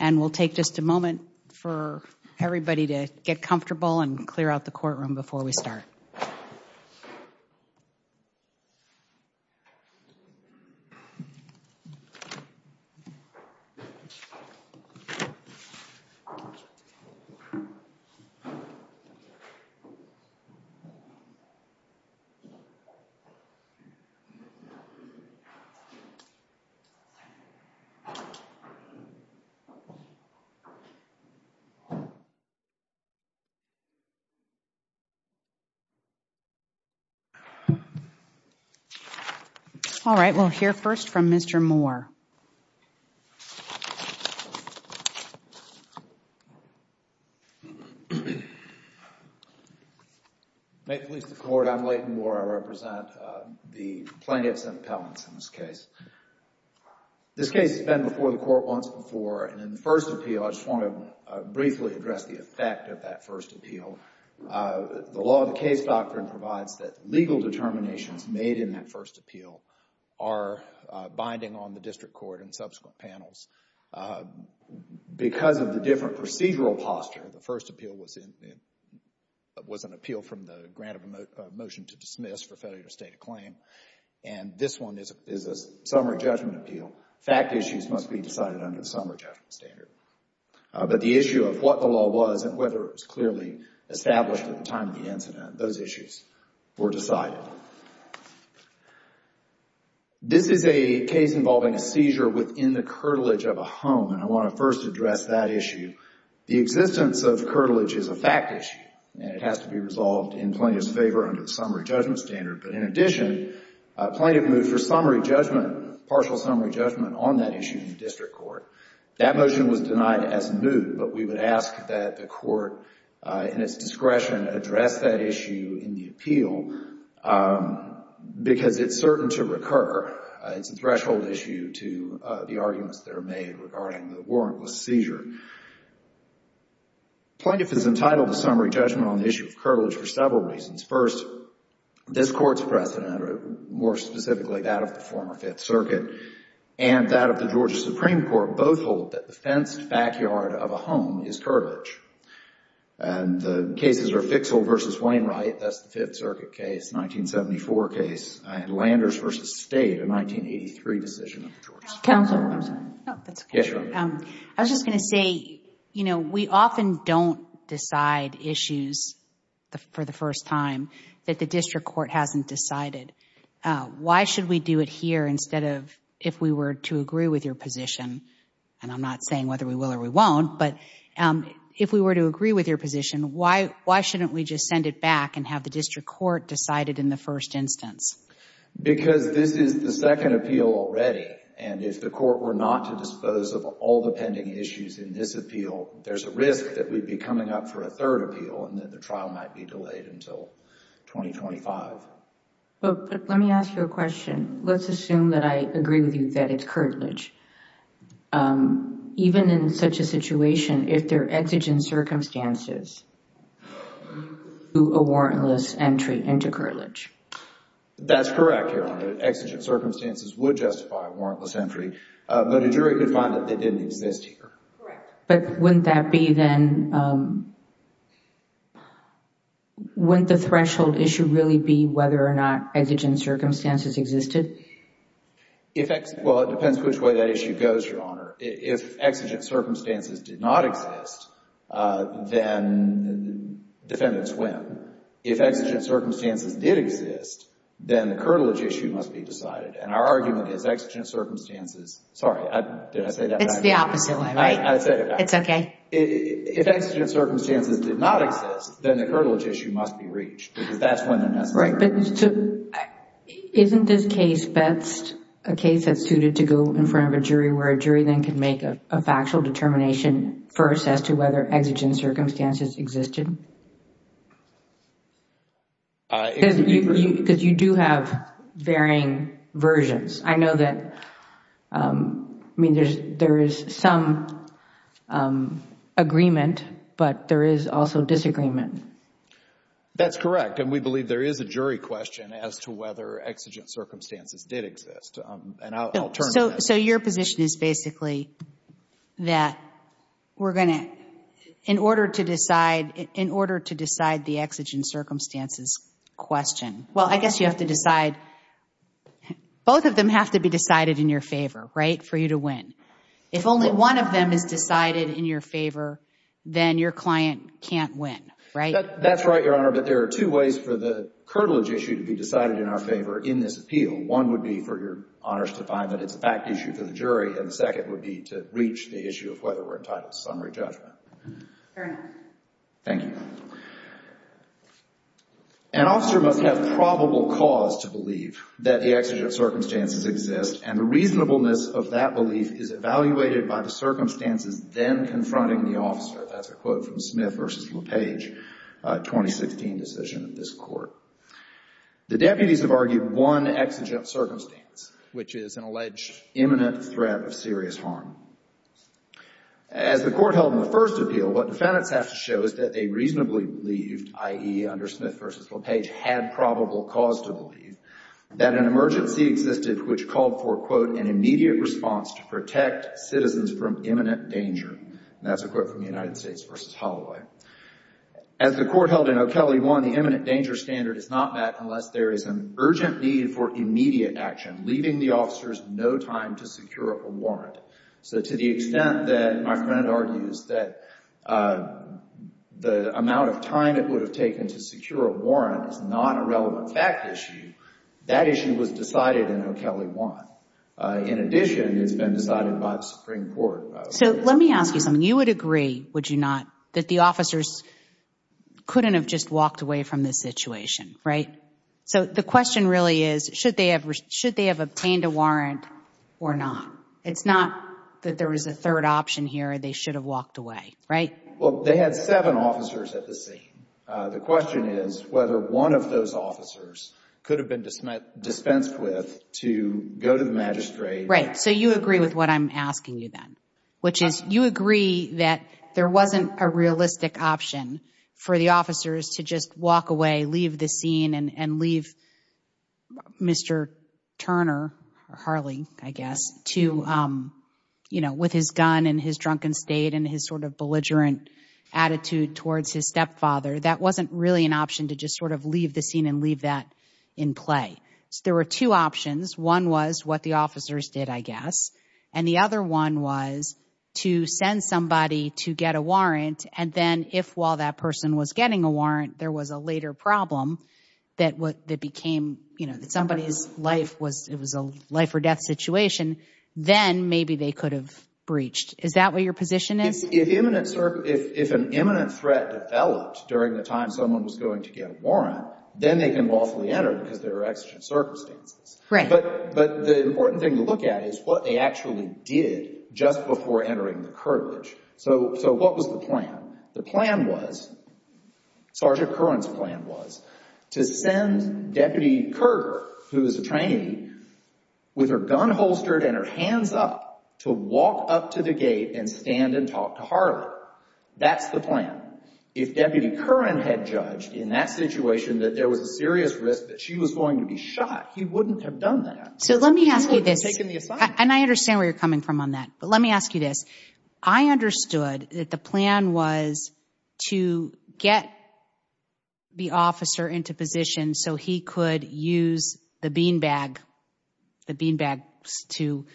and we'll take just a moment for everybody to get comfortable and clear out the courtroom before we start. All right, we'll hear first from Mr. Moore. May it please the Court, I'm Layton Moore. I represent the plaintiffs and appellants in this case. This case has been before the Court once before and in the first appeal, I just want to briefly address the effect of that first appeal. The law of the case doctrine provides that legal determinations made in that first appeal are binding on the district court and subsequent panels. Because of the different procedural posture, the first appeal was an appeal from the grant of a motion to dismiss for failure to state a claim. And this one is a summary judgment appeal. Fact issues must be decided under the summary judgment standard. But the issue of what the law was and whether it was clearly established at the time of the incident, those issues were decided. This is a case involving a seizure within the curtilage of a home and I want to first address that issue. The existence of curtilage is a fact issue and it has to be resolved in plaintiff's favor under the summary judgment standard. But in addition, plaintiff moved for summary judgment, partial summary judgment on that issue in the district court. That motion was denied as moved, but we would ask that the Court in its discretion address that issue in the appeal because it's certain to recur. It's a threshold issue to the arguments that are made regarding the warrantless seizure. Plaintiff is entitled to summary judgment on the issue of curtilage for several reasons. First, this Court's precedent, more specifically that of the former Fifth Circuit, and that of the Georgia Supreme Court both hold that the fenced backyard of a home is curtilage. And the cases are Fixel v. Wainwright, that's the Fifth Circuit case, 1974 case, and Landers v. State, a 1983 decision. Counsel. I was just going to say, you know, we often don't decide issues for the first time that the district court hasn't decided. Why should we do it here instead of if we were to agree with your position, and I'm not saying whether we will or we won't, but if we were to agree with your position, why shouldn't we just send it back and have the district court decide it in the first instance? Because this is the second appeal already, and if the court were not to dispose of all the pending issues in this appeal, there's a risk that we'd be coming up for a third appeal and that the trial might be delayed until 2025. But let me ask you a question. Let's assume that I agree with you that it's curtilage. Even in such a situation, if there are exigent circumstances, do a warrantless entry into curtilage? That's correct, Your Honor. Exigent circumstances would justify a warrantless entry, but a jury could find that they didn't exist here. Correct. But wouldn't that be then, wouldn't the threshold issue really be whether or not exigent circumstances existed? Well, it depends which way that issue goes, Your Honor. If exigent circumstances did not exist, then defendants win. If exigent circumstances did exist, then the curtilage issue must be decided, and our argument is exigent circumstances. Sorry, did I say that right? It's the opposite way, right? I said it right. It's okay. If exigent circumstances did not exist, then the curtilage issue must be reached because that's when they're necessary. Isn't this case, Betz, a case that's suited to go in front of a jury where a jury then can make a factual determination first as to whether exigent circumstances existed? Because you do have varying versions. I know that there is some agreement, but there is also disagreement. That's correct, and we believe there is a jury question as to whether exigent circumstances did exist, and I'll turn to that. So your position is basically that we're going to, in order to decide the exigent circumstances question, well, I guess you have to decide, both of them have to be decided in your favor, right, for you to win. If only one of them is decided in your favor, then your client can't win, right? That's right, Your Honor, but there are two ways for the curtilage issue to be decided in our favor in this appeal. One would be for Your Honors to find that it's a fact issue for the jury, and the second would be to reach the issue of whether we're entitled to summary judgment. Fair enough. Thank you. An officer must have probable cause to believe that the exigent circumstances exist, and the reasonableness of that belief is evaluated by the circumstances then confronting the officer. That's a quote from Smith v. LePage, a 2016 decision of this Court. The deputies have argued one exigent circumstance, which is an alleged imminent threat of serious harm. As the Court held in the first appeal, what defendants have to show is that they reasonably believed, i.e., under Smith v. LePage, had probable cause to believe, that an emergency existed which called for, quote, an immediate response to protect citizens from imminent danger. And that's a quote from the United States v. Holloway. As the Court held in O'Kelley 1, the imminent danger standard is not met unless there is an urgent need for immediate action, leaving the officers no time to secure a warrant. So to the extent that my friend argues that the amount of time it would have taken to secure a warrant is not a relevant fact issue, that issue was decided in O'Kelley 1. In addition, it's been decided by the Supreme Court. So let me ask you something. You would agree, would you not, that the officers couldn't have just walked away from this situation, right? So the question really is, should they have obtained a warrant or not? It's not that there was a third option here, they should have walked away, right? Well, they had seven officers at the scene. The question is whether one of those officers could have been dispensed with to go to the magistrate. Right. So you agree with what I'm asking you then, which is you agree that there wasn't a realistic option for the officers to just walk away, leave the scene and leave Mr. Turner, or Harley, I guess, to, you know, with his gun and his drunken state and his sort of belligerent attitude towards his stepfather. That wasn't really an option to just sort of leave the scene and leave that in play. So there were two options. And the other one was to send somebody to get a warrant, and then if while that person was getting a warrant, there was a later problem that became, you know, that somebody's life was, it was a life or death situation, then maybe they could have breached. Is that what your position is? If an imminent threat developed during the time someone was going to get a warrant, then they can lawfully enter because there are exigent circumstances. Right. But the important thing to look at is what they actually did just before entering the curtilage. So what was the plan? The plan was, Sergeant Curran's plan was to send Deputy Curran, who was a trainee, with her gun holstered and her hands up to walk up to the gate and stand and talk to Harley. That's the plan. If Deputy Curran had judged in that situation that there was a serious risk that she was going to be shot, he wouldn't have done that. So let me ask you this. He would have taken the assignment. And I understand where you're coming from on that. But let me ask you this. I understood that the plan was to get the officer into position so he could use the bean bag, the bean bags to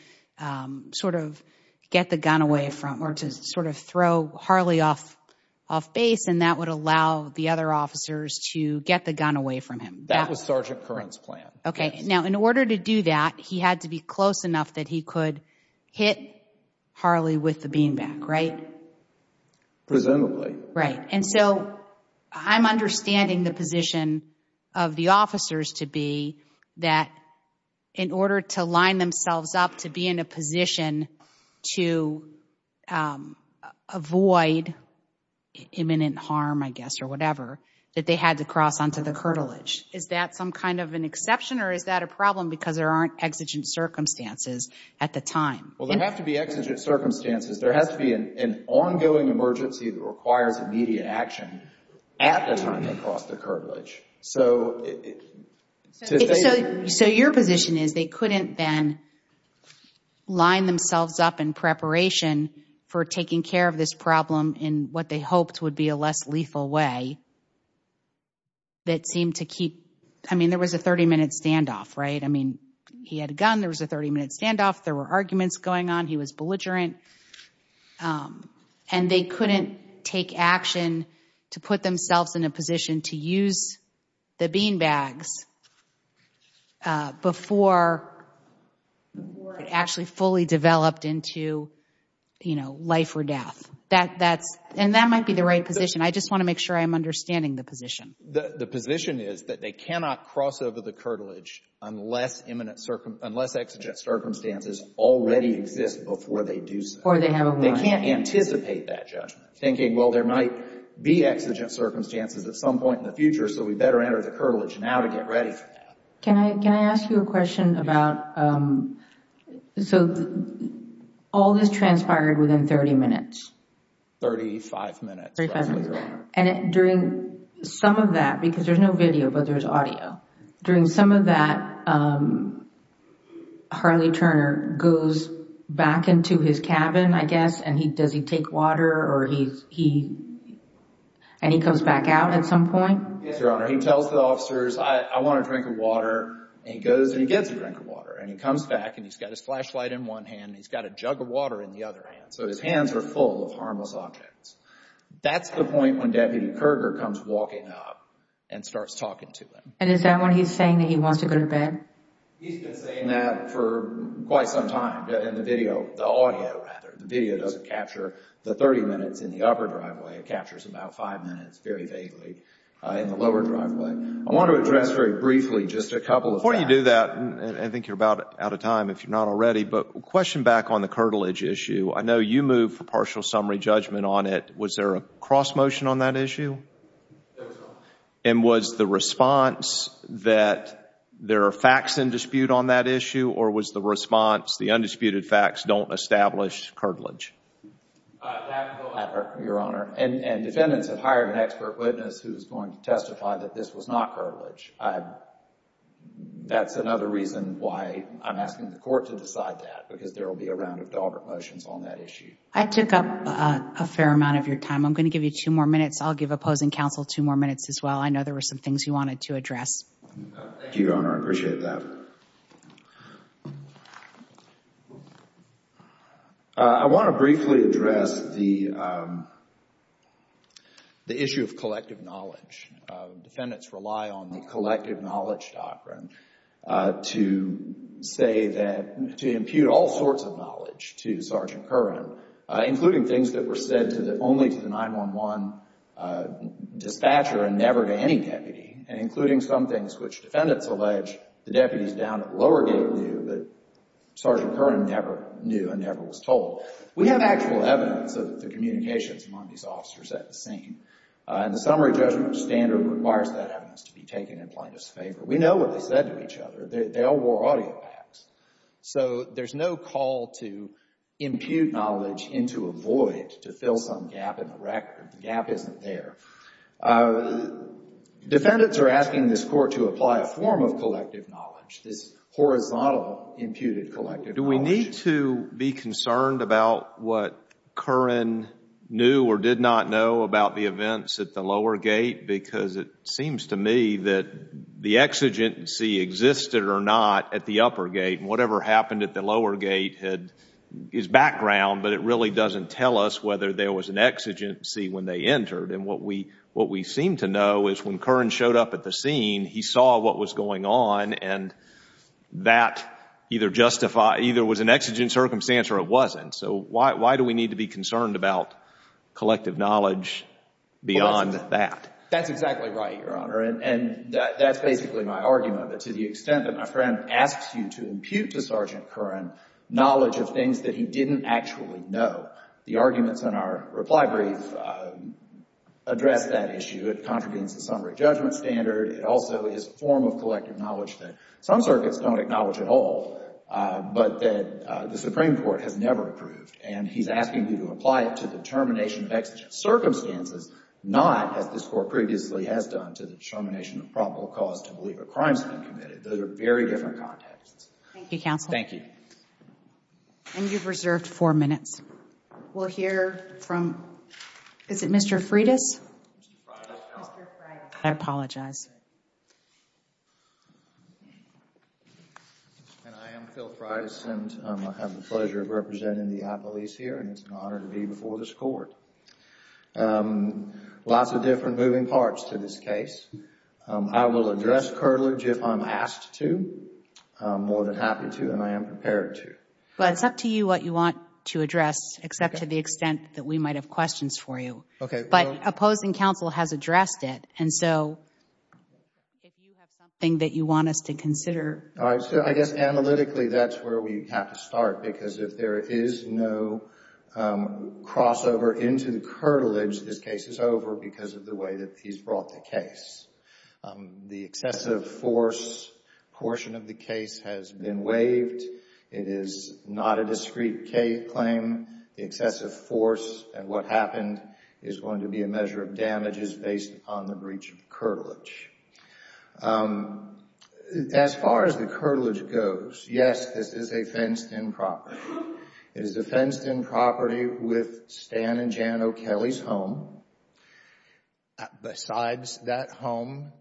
sort of get the gun away from, or to sort of throw Harley off base, and that would allow the other officers to get the gun away from him. That was Sergeant Curran's plan. Okay. Now, in order to do that, he had to be close enough that he could hit Harley with the bean bag, right? Presumably. Right. And so I'm understanding the position of the officers to be that in order to line themselves up to be in a position to avoid imminent harm, I guess, or whatever, that they had to cross onto the curtilage. Is that some kind of an exception or is that a problem because there aren't exigent circumstances at the time? Well, there have to be exigent circumstances. There has to be an ongoing emergency that requires immediate action at the time they cross the curtilage. So your position is they couldn't then line themselves up in preparation for taking care of this problem in what they hoped would be a less lethal way that seemed to keep, I mean, there was a 30-minute standoff, right? I mean, he had a gun. There was a 30-minute standoff. There were arguments going on. He was belligerent. And they couldn't take action to put themselves in a position to use the bean bags before it actually fully developed into, you know, life or death. And that might be the right position. I just want to make sure I'm understanding the position. The position is that they cannot cross over the curtilage unless exigent circumstances already exist before they do so. They can't anticipate that judgment, thinking, well, there might be exigent circumstances at some point in the future, so we better enter the curtilage now to get ready for that. Can I ask you a question about, so all this transpired within 30 minutes? Thirty-five minutes, Your Honor. And during some of that, because there's no video but there's audio, during some of that, Harley Turner goes back into his cabin, I guess, and does he take water or he, and he comes back out at some point? Yes, Your Honor. He tells the officers, I want a drink of water. And he goes and he gets a drink of water. And he comes back and he's got his flashlight in one hand and he's got a jug of water in the other hand. So his hands are full of harmless objects. That's the point when Deputy Kerger comes walking up and starts talking to him. And is that when he's saying that he wants to go to bed? He's been saying that for quite some time in the video, the audio, rather. The video doesn't capture the 30 minutes in the upper driveway. It captures about five minutes very vaguely in the lower driveway. I want to address very briefly just a couple of facts. Before you do that, and I think you're about out of time if you're not already, but a question back on the curtilage issue. I know you moved for partial summary judgment on it. Was there a cross motion on that issue? There was no cross motion. And was the response that there are facts in dispute on that issue or was the response the undisputed facts don't establish curtilage? That will ever, Your Honor. And defendants have hired an expert witness who is going to testify that this was not curtilage. That's another reason why I'm asking the court to decide that because there will be a round of Dalbert motions on that issue. I took up a fair amount of your time. I'm going to give you two more minutes. I'll give opposing counsel two more minutes as well. I know there were some things you wanted to address. Thank you, Your Honor. I appreciate that. Your Honor, I want to briefly address the issue of collective knowledge. Defendants rely on the collective knowledge doctrine to say that, to impute all sorts of knowledge to Sergeant Curran, including things that were said only to the 911 dispatcher and never to any deputy, and including some things which defendants allege the deputies down at the lower gate knew but Sergeant Curran never knew and never was told. We have actual evidence of the communications among these officers at the scene, and the summary judgment standard requires that evidence to be taken in plaintiff's favor. We know what they said to each other. They all wore audio packs. So there's no call to impute knowledge into a void to fill some gap in the record. The gap isn't there. Defendants are asking this court to apply a form of collective knowledge, this horizontal imputed collective knowledge. Do we need to be concerned about what Curran knew or did not know about the events at the lower gate? Because it seems to me that the exigency existed or not at the upper gate, and whatever happened at the lower gate is background, but it really doesn't tell us whether there was an exigency when they entered. And what we seem to know is when Curran showed up at the scene, he saw what was going on, and that either was an exigent circumstance or it wasn't. So why do we need to be concerned about collective knowledge beyond that? That's exactly right, Your Honor, and that's basically my argument, that to the extent that my friend asks you to impute to Sergeant Curran knowledge of things that he didn't actually know, the arguments in our reply brief address that issue. It contradicts the summary judgment standard. It also is a form of collective knowledge that some circuits don't acknowledge at all, but that the Supreme Court has never approved, and he's asking you to apply it to the determination of exigent circumstances, not, as this Court previously has done, to the determination of probable cause to believe a crime's been committed. Those are very different contexts. Thank you, counsel. Thank you. And you've reserved four minutes. We'll hear from, is it Mr. Freitas? Mr. Freitas. Mr. Freitas. I apologize. And I am Phil Freitas, and I have the pleasure of representing the appellees here, and it's an honor to be before this Court. Lots of different moving parts to this case. I will address curtilage if I'm asked to, more than happy to, and I am prepared to. Well, it's up to you what you want to address, except to the extent that we might have questions for you. Okay. But opposing counsel has addressed it, and so if you have something that you want us to consider. All right. So I guess analytically that's where we have to start, because if there is no crossover into the curtilage, this case is over because of the way that he's brought the case. The excessive force portion of the case has been waived. It is not a discrete K claim. The excessive force and what happened is going to be a measure of damages based upon the breach of curtilage. As far as the curtilage goes, yes, this is a fenced-in property. It is a fenced-in property with Stan and Jan O'Kelley's home. Besides that home,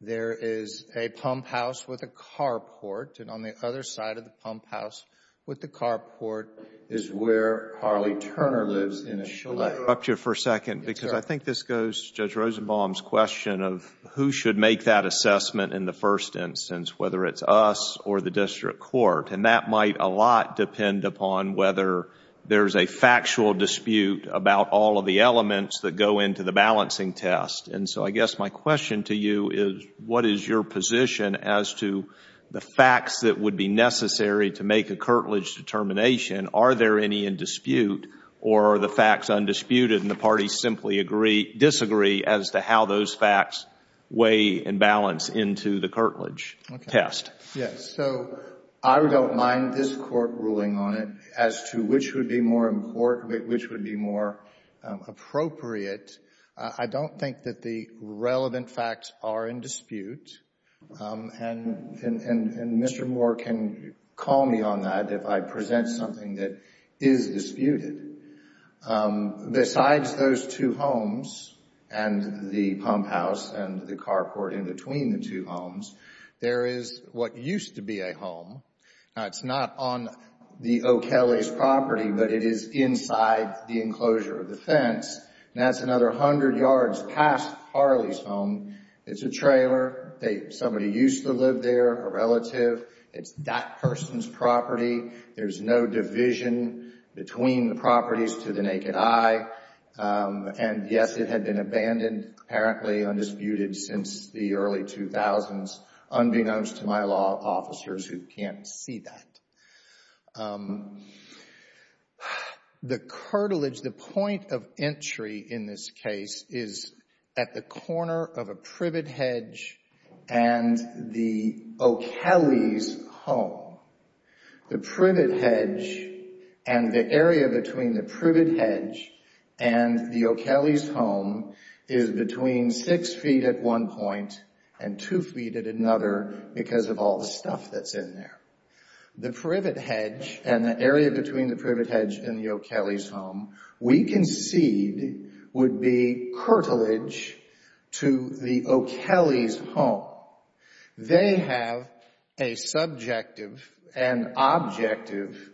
there is a pump house with a carport, and on the other side of the pump house with the carport is where Harley Turner lives in a chalet. Can I interrupt you for a second? Yes, sir. Because I think this goes to Judge Rosenbaum's question of who should make that assessment in the first instance, whether it's us or the district court, and that might a lot depend upon whether there's a factual dispute about all of the elements that go into the balancing test. And so I guess my question to you is, what is your position as to the facts that would be necessary to make a curtilage determination? Are there any in dispute, or are the facts undisputed and the parties simply disagree as to how those facts weigh and balance into the curtilage test? Yes, so I don't mind this court ruling on it as to which would be more important, which would be more appropriate. I don't think that the relevant facts are in dispute, and Mr. Moore can call me on that if I present something that is disputed. Besides those two homes and the pump house and the carport in between the two homes, there is what used to be a home. It's not on the O'Kelly's property, but it is inside the enclosure of the fence, and that's another 100 yards past Harley's home. It's a trailer. Somebody used to live there, a relative. It's that person's property. There's no division between the properties to the naked eye. And, yes, it had been abandoned, apparently undisputed since the early 2000s, unbeknownst to my law officers who can't see that. The curtilage, the point of entry in this case, is at the corner of a privet hedge and the O'Kelly's home. The privet hedge and the area between the privet hedge and the O'Kelly's home is between six feet at one point and two feet at another because of all the stuff that's in there. The privet hedge and the area between the privet hedge and the O'Kelly's home, we concede, would be curtilage to the O'Kelly's home. They have a subjective and objective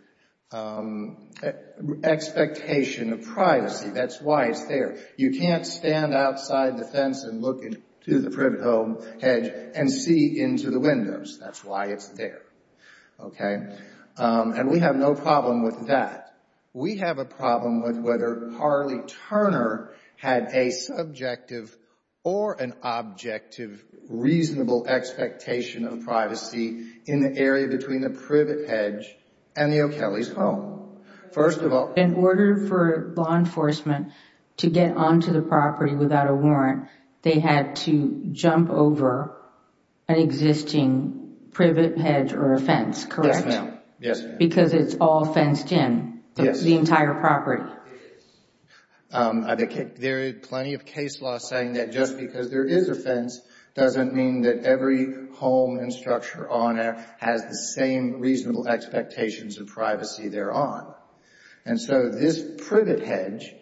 expectation of privacy. That's why it's there. You can't stand outside the fence and look into the privet hedge and see into the windows. That's why it's there. Okay? And we have no problem with that. We have a problem with whether Harley Turner had a subjective or an objective reasonable expectation of privacy in the area between the privet hedge and the O'Kelly's home. In order for law enforcement to get onto the property without a warrant, they had to jump over an existing privet hedge or a fence, correct? Yes, ma'am. Yes, ma'am. Because it's all fenced in, the entire property. There are plenty of case laws saying that just because there is a fence doesn't mean that every home and structure on there has the same reasonable expectations of privacy they're on. And so this privet hedge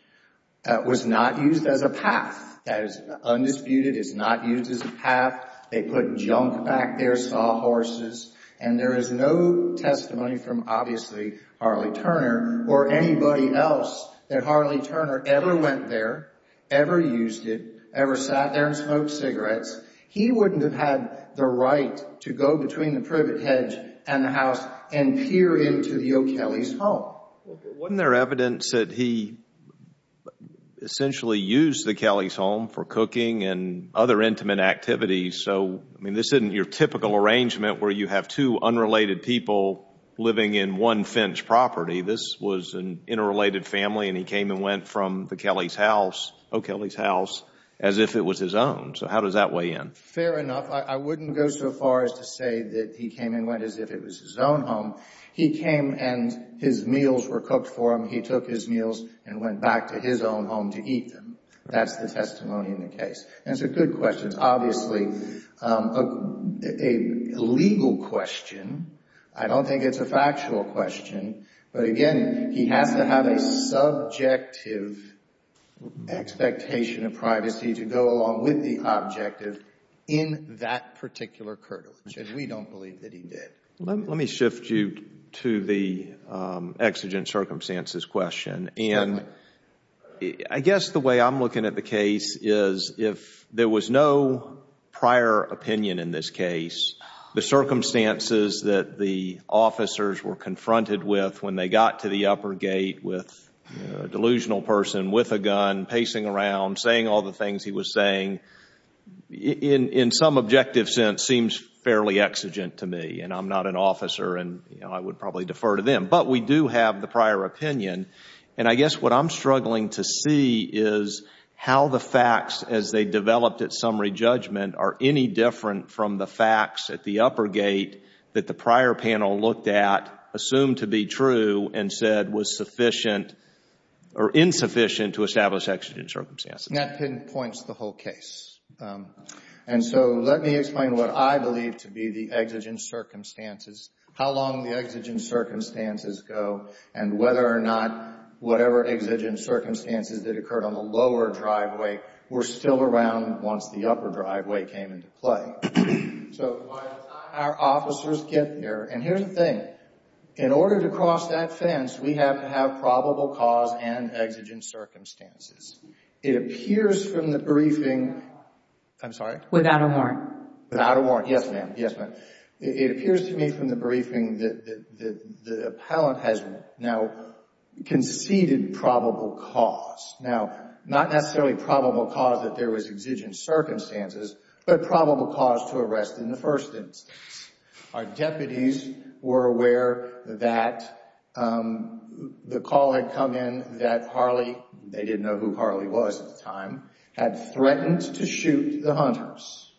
was not used as a path. That is undisputed. It's not used as a path. They put junk back there, saw horses. And there is no testimony from, obviously, Harley Turner or anybody else that Harley Turner ever went there, ever used it, ever sat there and smoked cigarettes. He wouldn't have had the right to go between the privet hedge and the house and peer into the O'Kelly's home. Wasn't there evidence that he essentially used the Kelly's home for cooking and other intimate activities? So, I mean, this isn't your typical arrangement where you have two unrelated people living in one fenced property. This was an interrelated family and he came and went from the Kelly's house, O'Kelly's house, as if it was his own. So how does that weigh in? Fair enough. I wouldn't go so far as to say that he came and went as if it was his own home. He came and his meals were cooked for him. He took his meals and went back to his own home to eat them. That's the testimony in the case. And it's a good question. It's obviously a legal question. I don't think it's a factual question. But, again, he has to have a subjective expectation of privacy to go along with the objective in that particular curtilage. And we don't believe that he did. Let me shift you to the exigent circumstances question. And I guess the way I'm looking at the case is if there was no prior opinion in this case, the circumstances that the officers were confronted with when they got to the upper gate with a delusional person with a gun pacing around, saying all the things he was saying, in some objective sense seems fairly exigent to me. And I'm not an officer and I would probably defer to them. But we do have the prior opinion. And I guess what I'm struggling to see is how the facts, as they developed at summary judgment, are any different from the facts at the upper gate that the prior panel looked at, assumed to be true, and said was sufficient or insufficient to establish exigent circumstances. And that pinpoints the whole case. And so let me explain what I believe to be the exigent circumstances, how long the exigent circumstances go, and whether or not whatever exigent circumstances that occurred on the lower driveway were still around once the upper driveway came into play. So by the time our officers get there, and here's the thing, in order to cross that fence, we have to have probable cause and exigent circumstances. It appears from the briefing. I'm sorry? Without a warrant. Without a warrant. Yes, ma'am. Yes, ma'am. It appears to me from the briefing that the appellant has now conceded probable cause. Now, not necessarily probable cause that there was exigent circumstances, but probable cause to arrest in the first instance. Our deputies were aware that the call had come in that Harley, they didn't know who Harley was at the time, had threatened to shoot the hunters.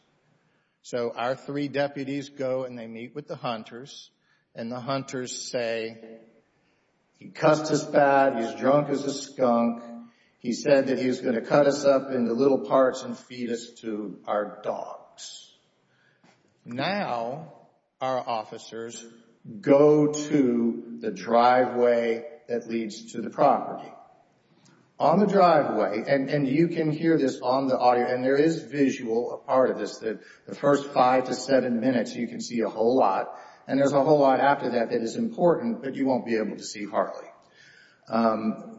So our three deputies go and they meet with the hunters, and the hunters say, he cussed us bad, he's drunk as a skunk, he said that he was going to cut us up into little parts and feed us to our dogs. Now, our officers go to the driveway that leads to the property. On the driveway, and you can hear this on the audio, and there is visual, a part of this, the first five to seven minutes you can see a whole lot, and there's a whole lot after that that is important, but you won't be able to see Harley.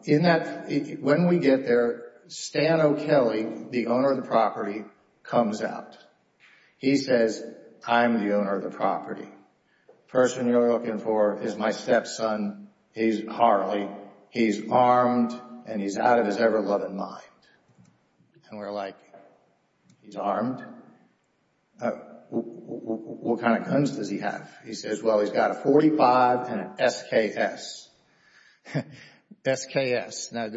In that, when we get there, Stan O'Kelly, the owner of the property, comes out. He says, I'm the owner of the property. The person you're looking for is my stepson, Harley. He's armed and he's out of his ever-loving mind. And we're like, he's armed? What kind of guns does he have? He says, well, he's got a .45 and an SKS. SKS. Now,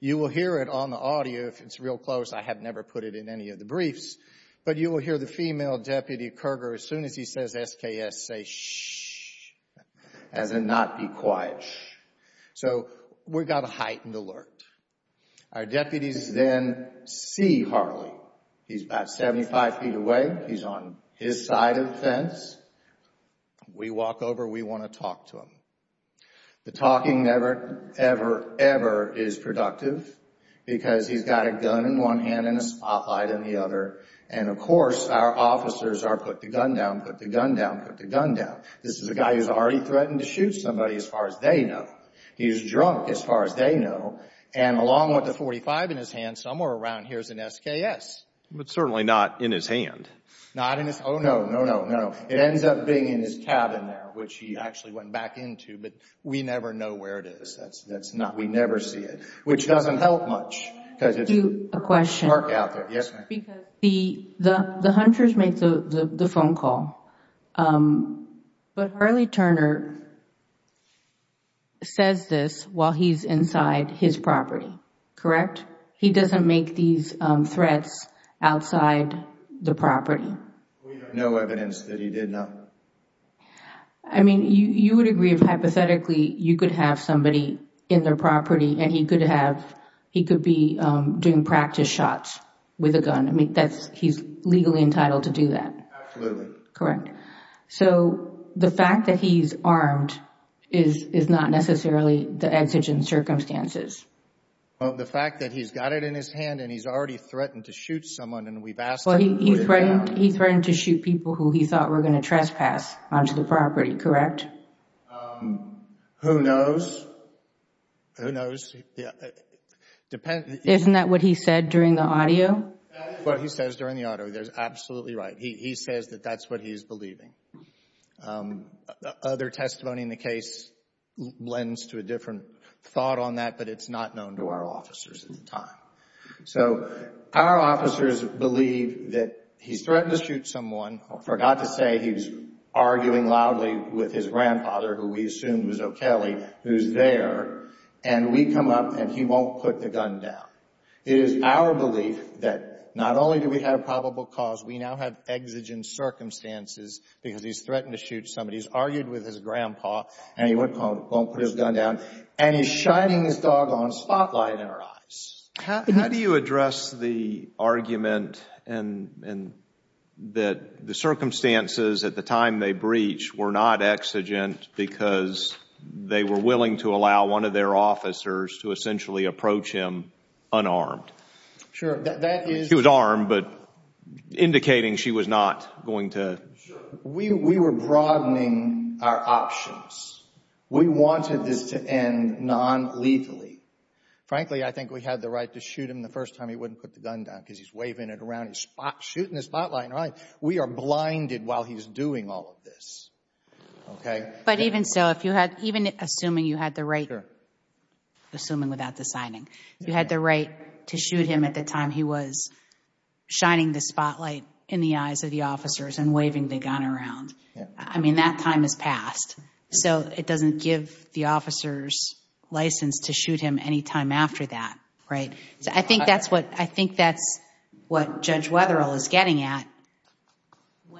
you will hear it on the audio. If it's real close, I have never put it in any of the briefs, but you will hear the female deputy, Kerger, as soon as he says SKS, say, shh, as in not be quiet, shh. So we've got a heightened alert. Our deputies then see Harley. He's about 75 feet away. He's on his side of the fence. We walk over. We want to talk to him. The talking never, ever, ever is productive because he's got a gun in one hand and a spotlight in the other. And, of course, our officers are put the gun down, put the gun down, put the gun down. This is a guy who's already threatened to shoot somebody, as far as they know. He's drunk, as far as they know. And along with the .45 in his hand, somewhere around here is an SKS. But certainly not in his hand. Not in his hand. Oh, no, no, no, no. It ends up being in his cabin there, which he actually went back into. But we never know where it is. We never see it, which doesn't help much. Can I ask you a question? Yes, ma'am. Because the hunters make the phone call. But Harley Turner says this while he's inside his property, correct? He doesn't make these threats outside the property. We have no evidence that he did, no. I mean, you would agree, hypothetically, you could have somebody in their property and he could be doing practice shots with a gun. He's legally entitled to do that. Absolutely. Correct. So the fact that he's armed is not necessarily the exigent circumstances. The fact that he's got it in his hand and he's already threatened to shoot someone and we've asked him to put it down. He threatened to shoot people who he thought were going to trespass onto the property, correct? Who knows? Who knows? Isn't that what he said during the audio? That is what he says during the audio. He's absolutely right. He says that that's what he's believing. Other testimony in the case lends to a different thought on that, but it's not known to our officers at the time. So our officers believe that he's threatened to shoot someone or forgot to say he was arguing loudly with his grandfather, who we assumed was O'Kelly, who's there, and we come up and he won't put the gun down. It is our belief that not only do we have probable cause, we now have exigent circumstances because he's threatened to shoot somebody. He's argued with his grandpa and he won't put his gun down and he's shining his doggone spotlight in our eyes. How do you address the argument that the circumstances at the time they breached were not exigent because they were willing to allow one of their officers to essentially approach him unarmed? Sure. She was armed, but indicating she was not going to. Sure. We were broadening our options. We wanted this to end nonlethally. Frankly, I think we had the right to shoot him the first time he wouldn't put the gun down because he's waving it around, he's shooting the spotlight. We are blinded while he's doing all of this. But even so, even assuming you had the right, assuming without deciding, you had the right to shoot him at the time he was shining the spotlight in the eyes of the officers and waving the gun around. That time has passed. It doesn't give the officers license to shoot him any time after that. I think that's what Judge Wetherill is getting at.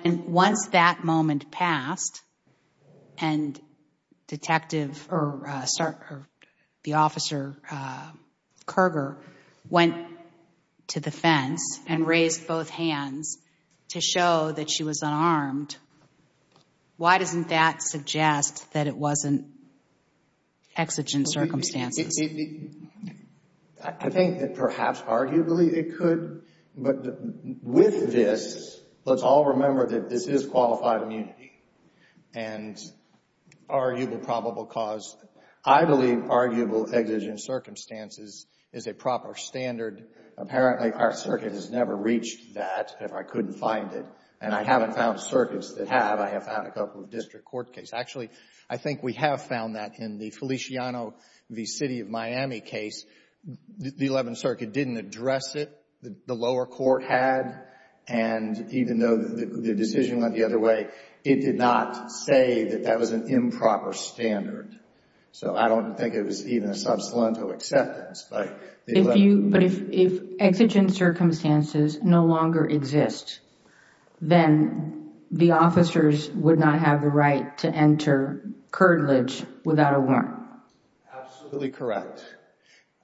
Once that moment passed and the officer, Kerger, went to the fence and raised both hands to show that she was unarmed, why doesn't that suggest that it wasn't exigent circumstances? I think that perhaps arguably it could. But with this, let's all remember that this is qualified immunity and arguable probable cause. I believe arguable exigent circumstances is a proper standard. Apparently, our circuit has never reached that if I couldn't find it. And I haven't found circuits that have. I have found a couple of district court cases. Actually, I think we have found that in the Feliciano v. City of Miami case. The Eleventh Circuit didn't address it. The lower court had. And even though the decision went the other way, it did not say that that was an improper standard. So I don't think it was even a substantial acceptance. But if exigent circumstances no longer exist, then the officers would not have the right to enter curtilage without a warrant. Absolutely correct.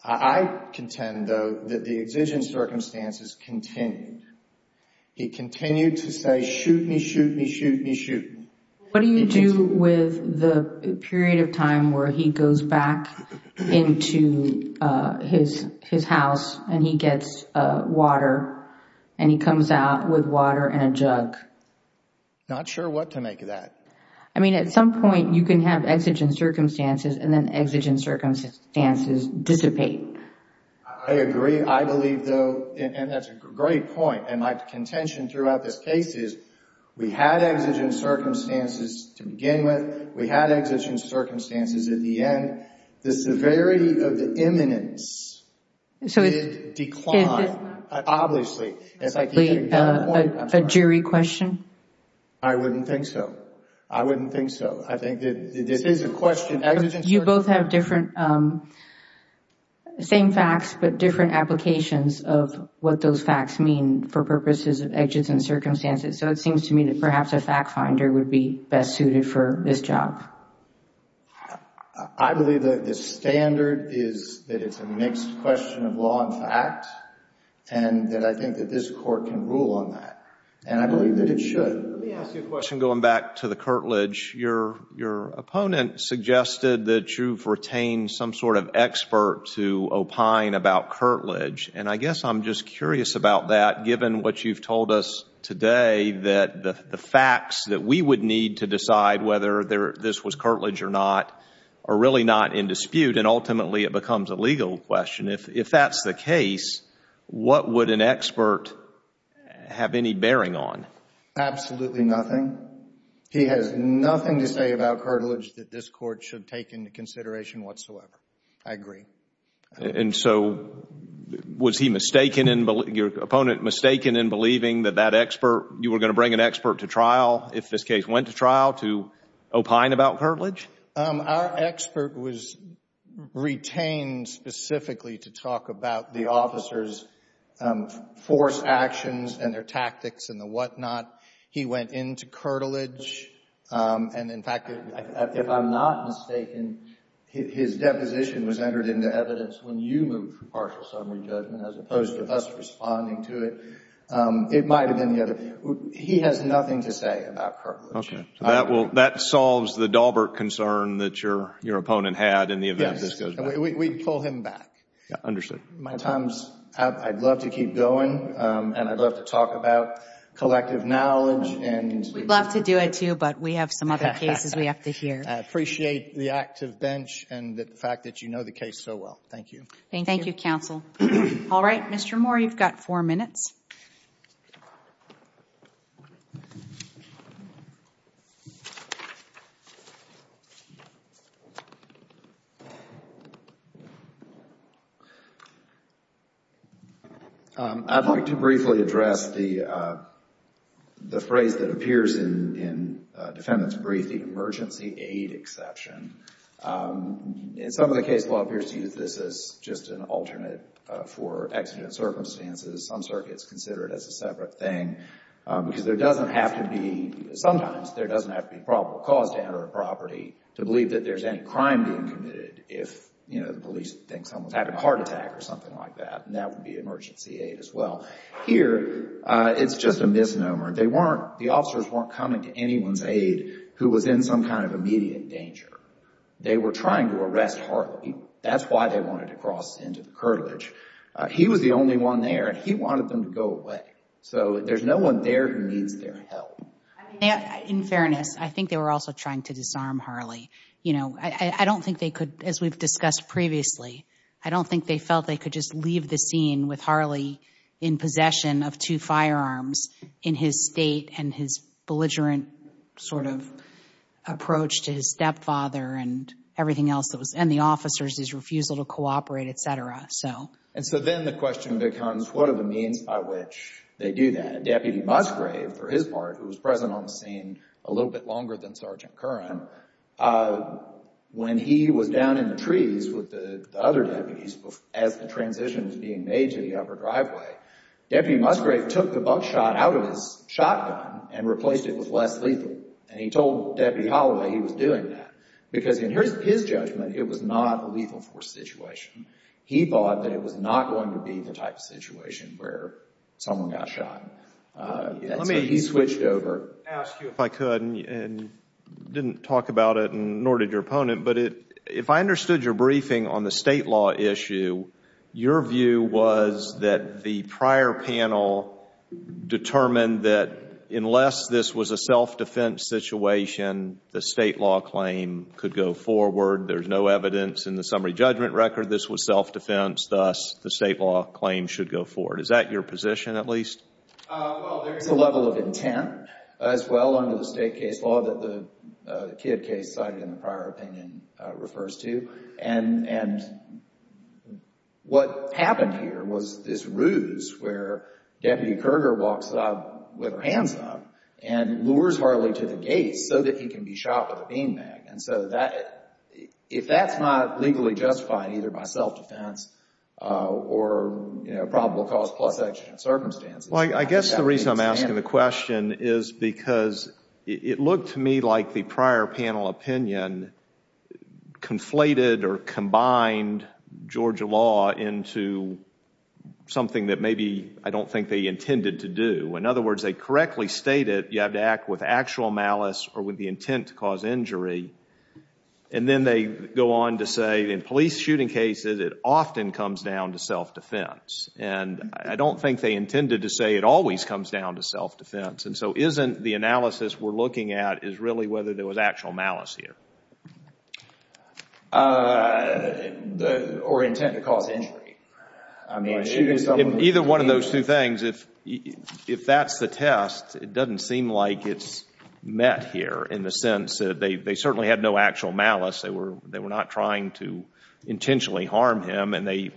I contend, though, that the exigent circumstances continued. He continued to say, shoot me, shoot me, shoot me, shoot me. What do you do with the period of time where he goes back into his house and he gets water and he comes out with water and a jug? Not sure what to make of that. I mean, at some point you can have exigent circumstances and then exigent circumstances dissipate. I agree. I believe, though, and that's a great point, and my contention throughout this case is we had exigent circumstances to begin with. We had exigent circumstances at the end. The severity of the imminence did decline, obviously. A jury question? I wouldn't think so. I wouldn't think so. I think that this is a question. You both have different, same facts but different applications of what those facts mean for purposes of exigent circumstances, so it seems to me that perhaps a fact finder would be best suited for this job. I believe that the standard is that it's a mixed question of law and fact and that I think that this court can rule on that, and I believe that it should. Let me ask you a question going back to the curtilage. Your opponent suggested that you've retained some sort of expert to opine about curtilage, and I guess I'm just curious about that given what you've told us today, that the facts that we would need to decide whether this was curtilage or not are really not in dispute, and ultimately it becomes a legal question. If that's the case, what would an expert have any bearing on? Absolutely nothing. He has nothing to say about curtilage that this court should take into consideration whatsoever. I agree. And so was he mistaken in believing, your opponent mistaken in believing that that expert, you were going to bring an expert to trial if this case went to trial to opine about curtilage? Our expert was retained specifically to talk about the officer's force actions and their tactics and the whatnot. He went into curtilage, and, in fact, if I'm not mistaken, his deposition was entered into evidence when you moved for partial summary judgment as opposed to us responding to it. It might have been the other. He has nothing to say about curtilage. Okay. That solves the Dahlberg concern that your opponent had in the event this goes back. Yes. We pull him back. Understood. My time's up. I'd love to keep going, and I'd love to talk about collective knowledge. We'd love to do it, too, but we have some other cases we have to hear. I appreciate the active bench and the fact that you know the case so well. Thank you. Thank you, counsel. All right. Mr. Moore, you've got four minutes. I'd like to briefly address the phrase that appears in defendant's brief, the emergency aid exception. In some of the cases, the law appears to use this as just an alternate for exigent circumstances. Some circuits consider it as a separate thing because there doesn't have to be sometimes there doesn't have to be probable cause to enter a property to believe that there's any crime being committed if, you know, the police think someone's having a heart attack or something like that. And that would be emergency aid as well. Here, it's just a misnomer. They weren't, the officers weren't coming to anyone's aid who was in some kind of immediate danger. They were trying to arrest Harley. That's why they wanted to cross into the curtilage. He was the only one there, and he wanted them to go away. So there's no one there who needs their help. In fairness, I think they were also trying to disarm Harley. You know, I don't think they could, as we've discussed previously, I don't think they felt they could just leave the scene with Harley in possession of two firearms in his state and his belligerent sort of approach to his stepfather and everything else that was, and the officers, his refusal to cooperate, et cetera. And so then the question becomes, what are the means by which they do that? And Deputy Musgrave, for his part, who was present on the scene a little bit longer than Sergeant Curran, when he was down in the trees with the other deputies as the transition was being made to the upper driveway, Deputy Musgrave took the buckshot out of his shotgun and replaced it with less lethal. And he told Deputy Holloway he was doing that because, in his judgment, it was not a lethal force situation. He thought that it was not going to be the type of situation where someone got shot. He switched over. Let me ask you, if I could, and didn't talk about it, nor did your opponent, but if I understood your briefing on the state law issue, your view was that the prior panel determined that unless this was a self-defense situation, the state law claim could go forward. There's no evidence in the summary judgment record this was self-defense. Thus, the state law claim should go forward. Is that your position, at least? Well, there is a level of intent as well under the state case law that the Kidd case cited in the prior opinion refers to. And what happened here was this ruse where Deputy Kerger walks out with her hands up and lures Harley to the gate so that he can be shot with a beanbag. And so if that's not legally justified either by self-defense or probable cause plus exigent circumstances, Well, I guess the reason I'm asking the question is because it looked to me like the prior panel opinion conflated or combined Georgia law into something that maybe I don't think they intended to do. In other words, they correctly stated you have to act with actual malice or with the intent to cause injury. And then they go on to say in police shooting cases, it often comes down to self-defense. And I don't think they intended to say it always comes down to self-defense. And so isn't the analysis we're looking at is really whether there was actual malice here? Or intent to cause injury. Either one of those two things. If that's the test, it doesn't seem like it's met here in the sense that they certainly had no actual malice. They were not trying to intentionally harm him. And the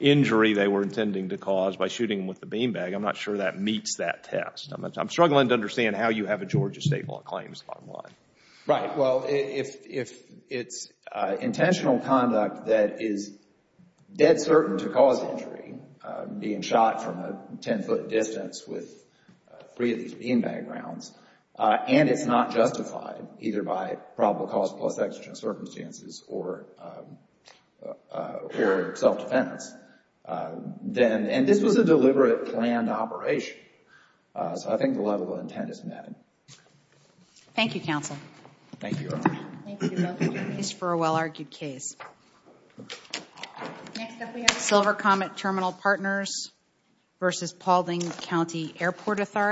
injury they were intending to cause by shooting him with the beanbag, I'm not sure that meets that test. I'm struggling to understand how you have a Georgia state law claim on one. Right. Well, if it's intentional conduct that is dead certain to cause injury, being shot from a ten-foot distance with three of these beanbag rounds, and it's not justified either by probable cause plus extra circumstances or self-defense, then, and this was a deliberate planned operation. So I think the level of intent is met. Thank you, Counsel. Thank you, Your Honor. Thank you both for your case for a well-argued case. Next up we have Silver Comet Terminal Partners v. Paulding County Airport Authority.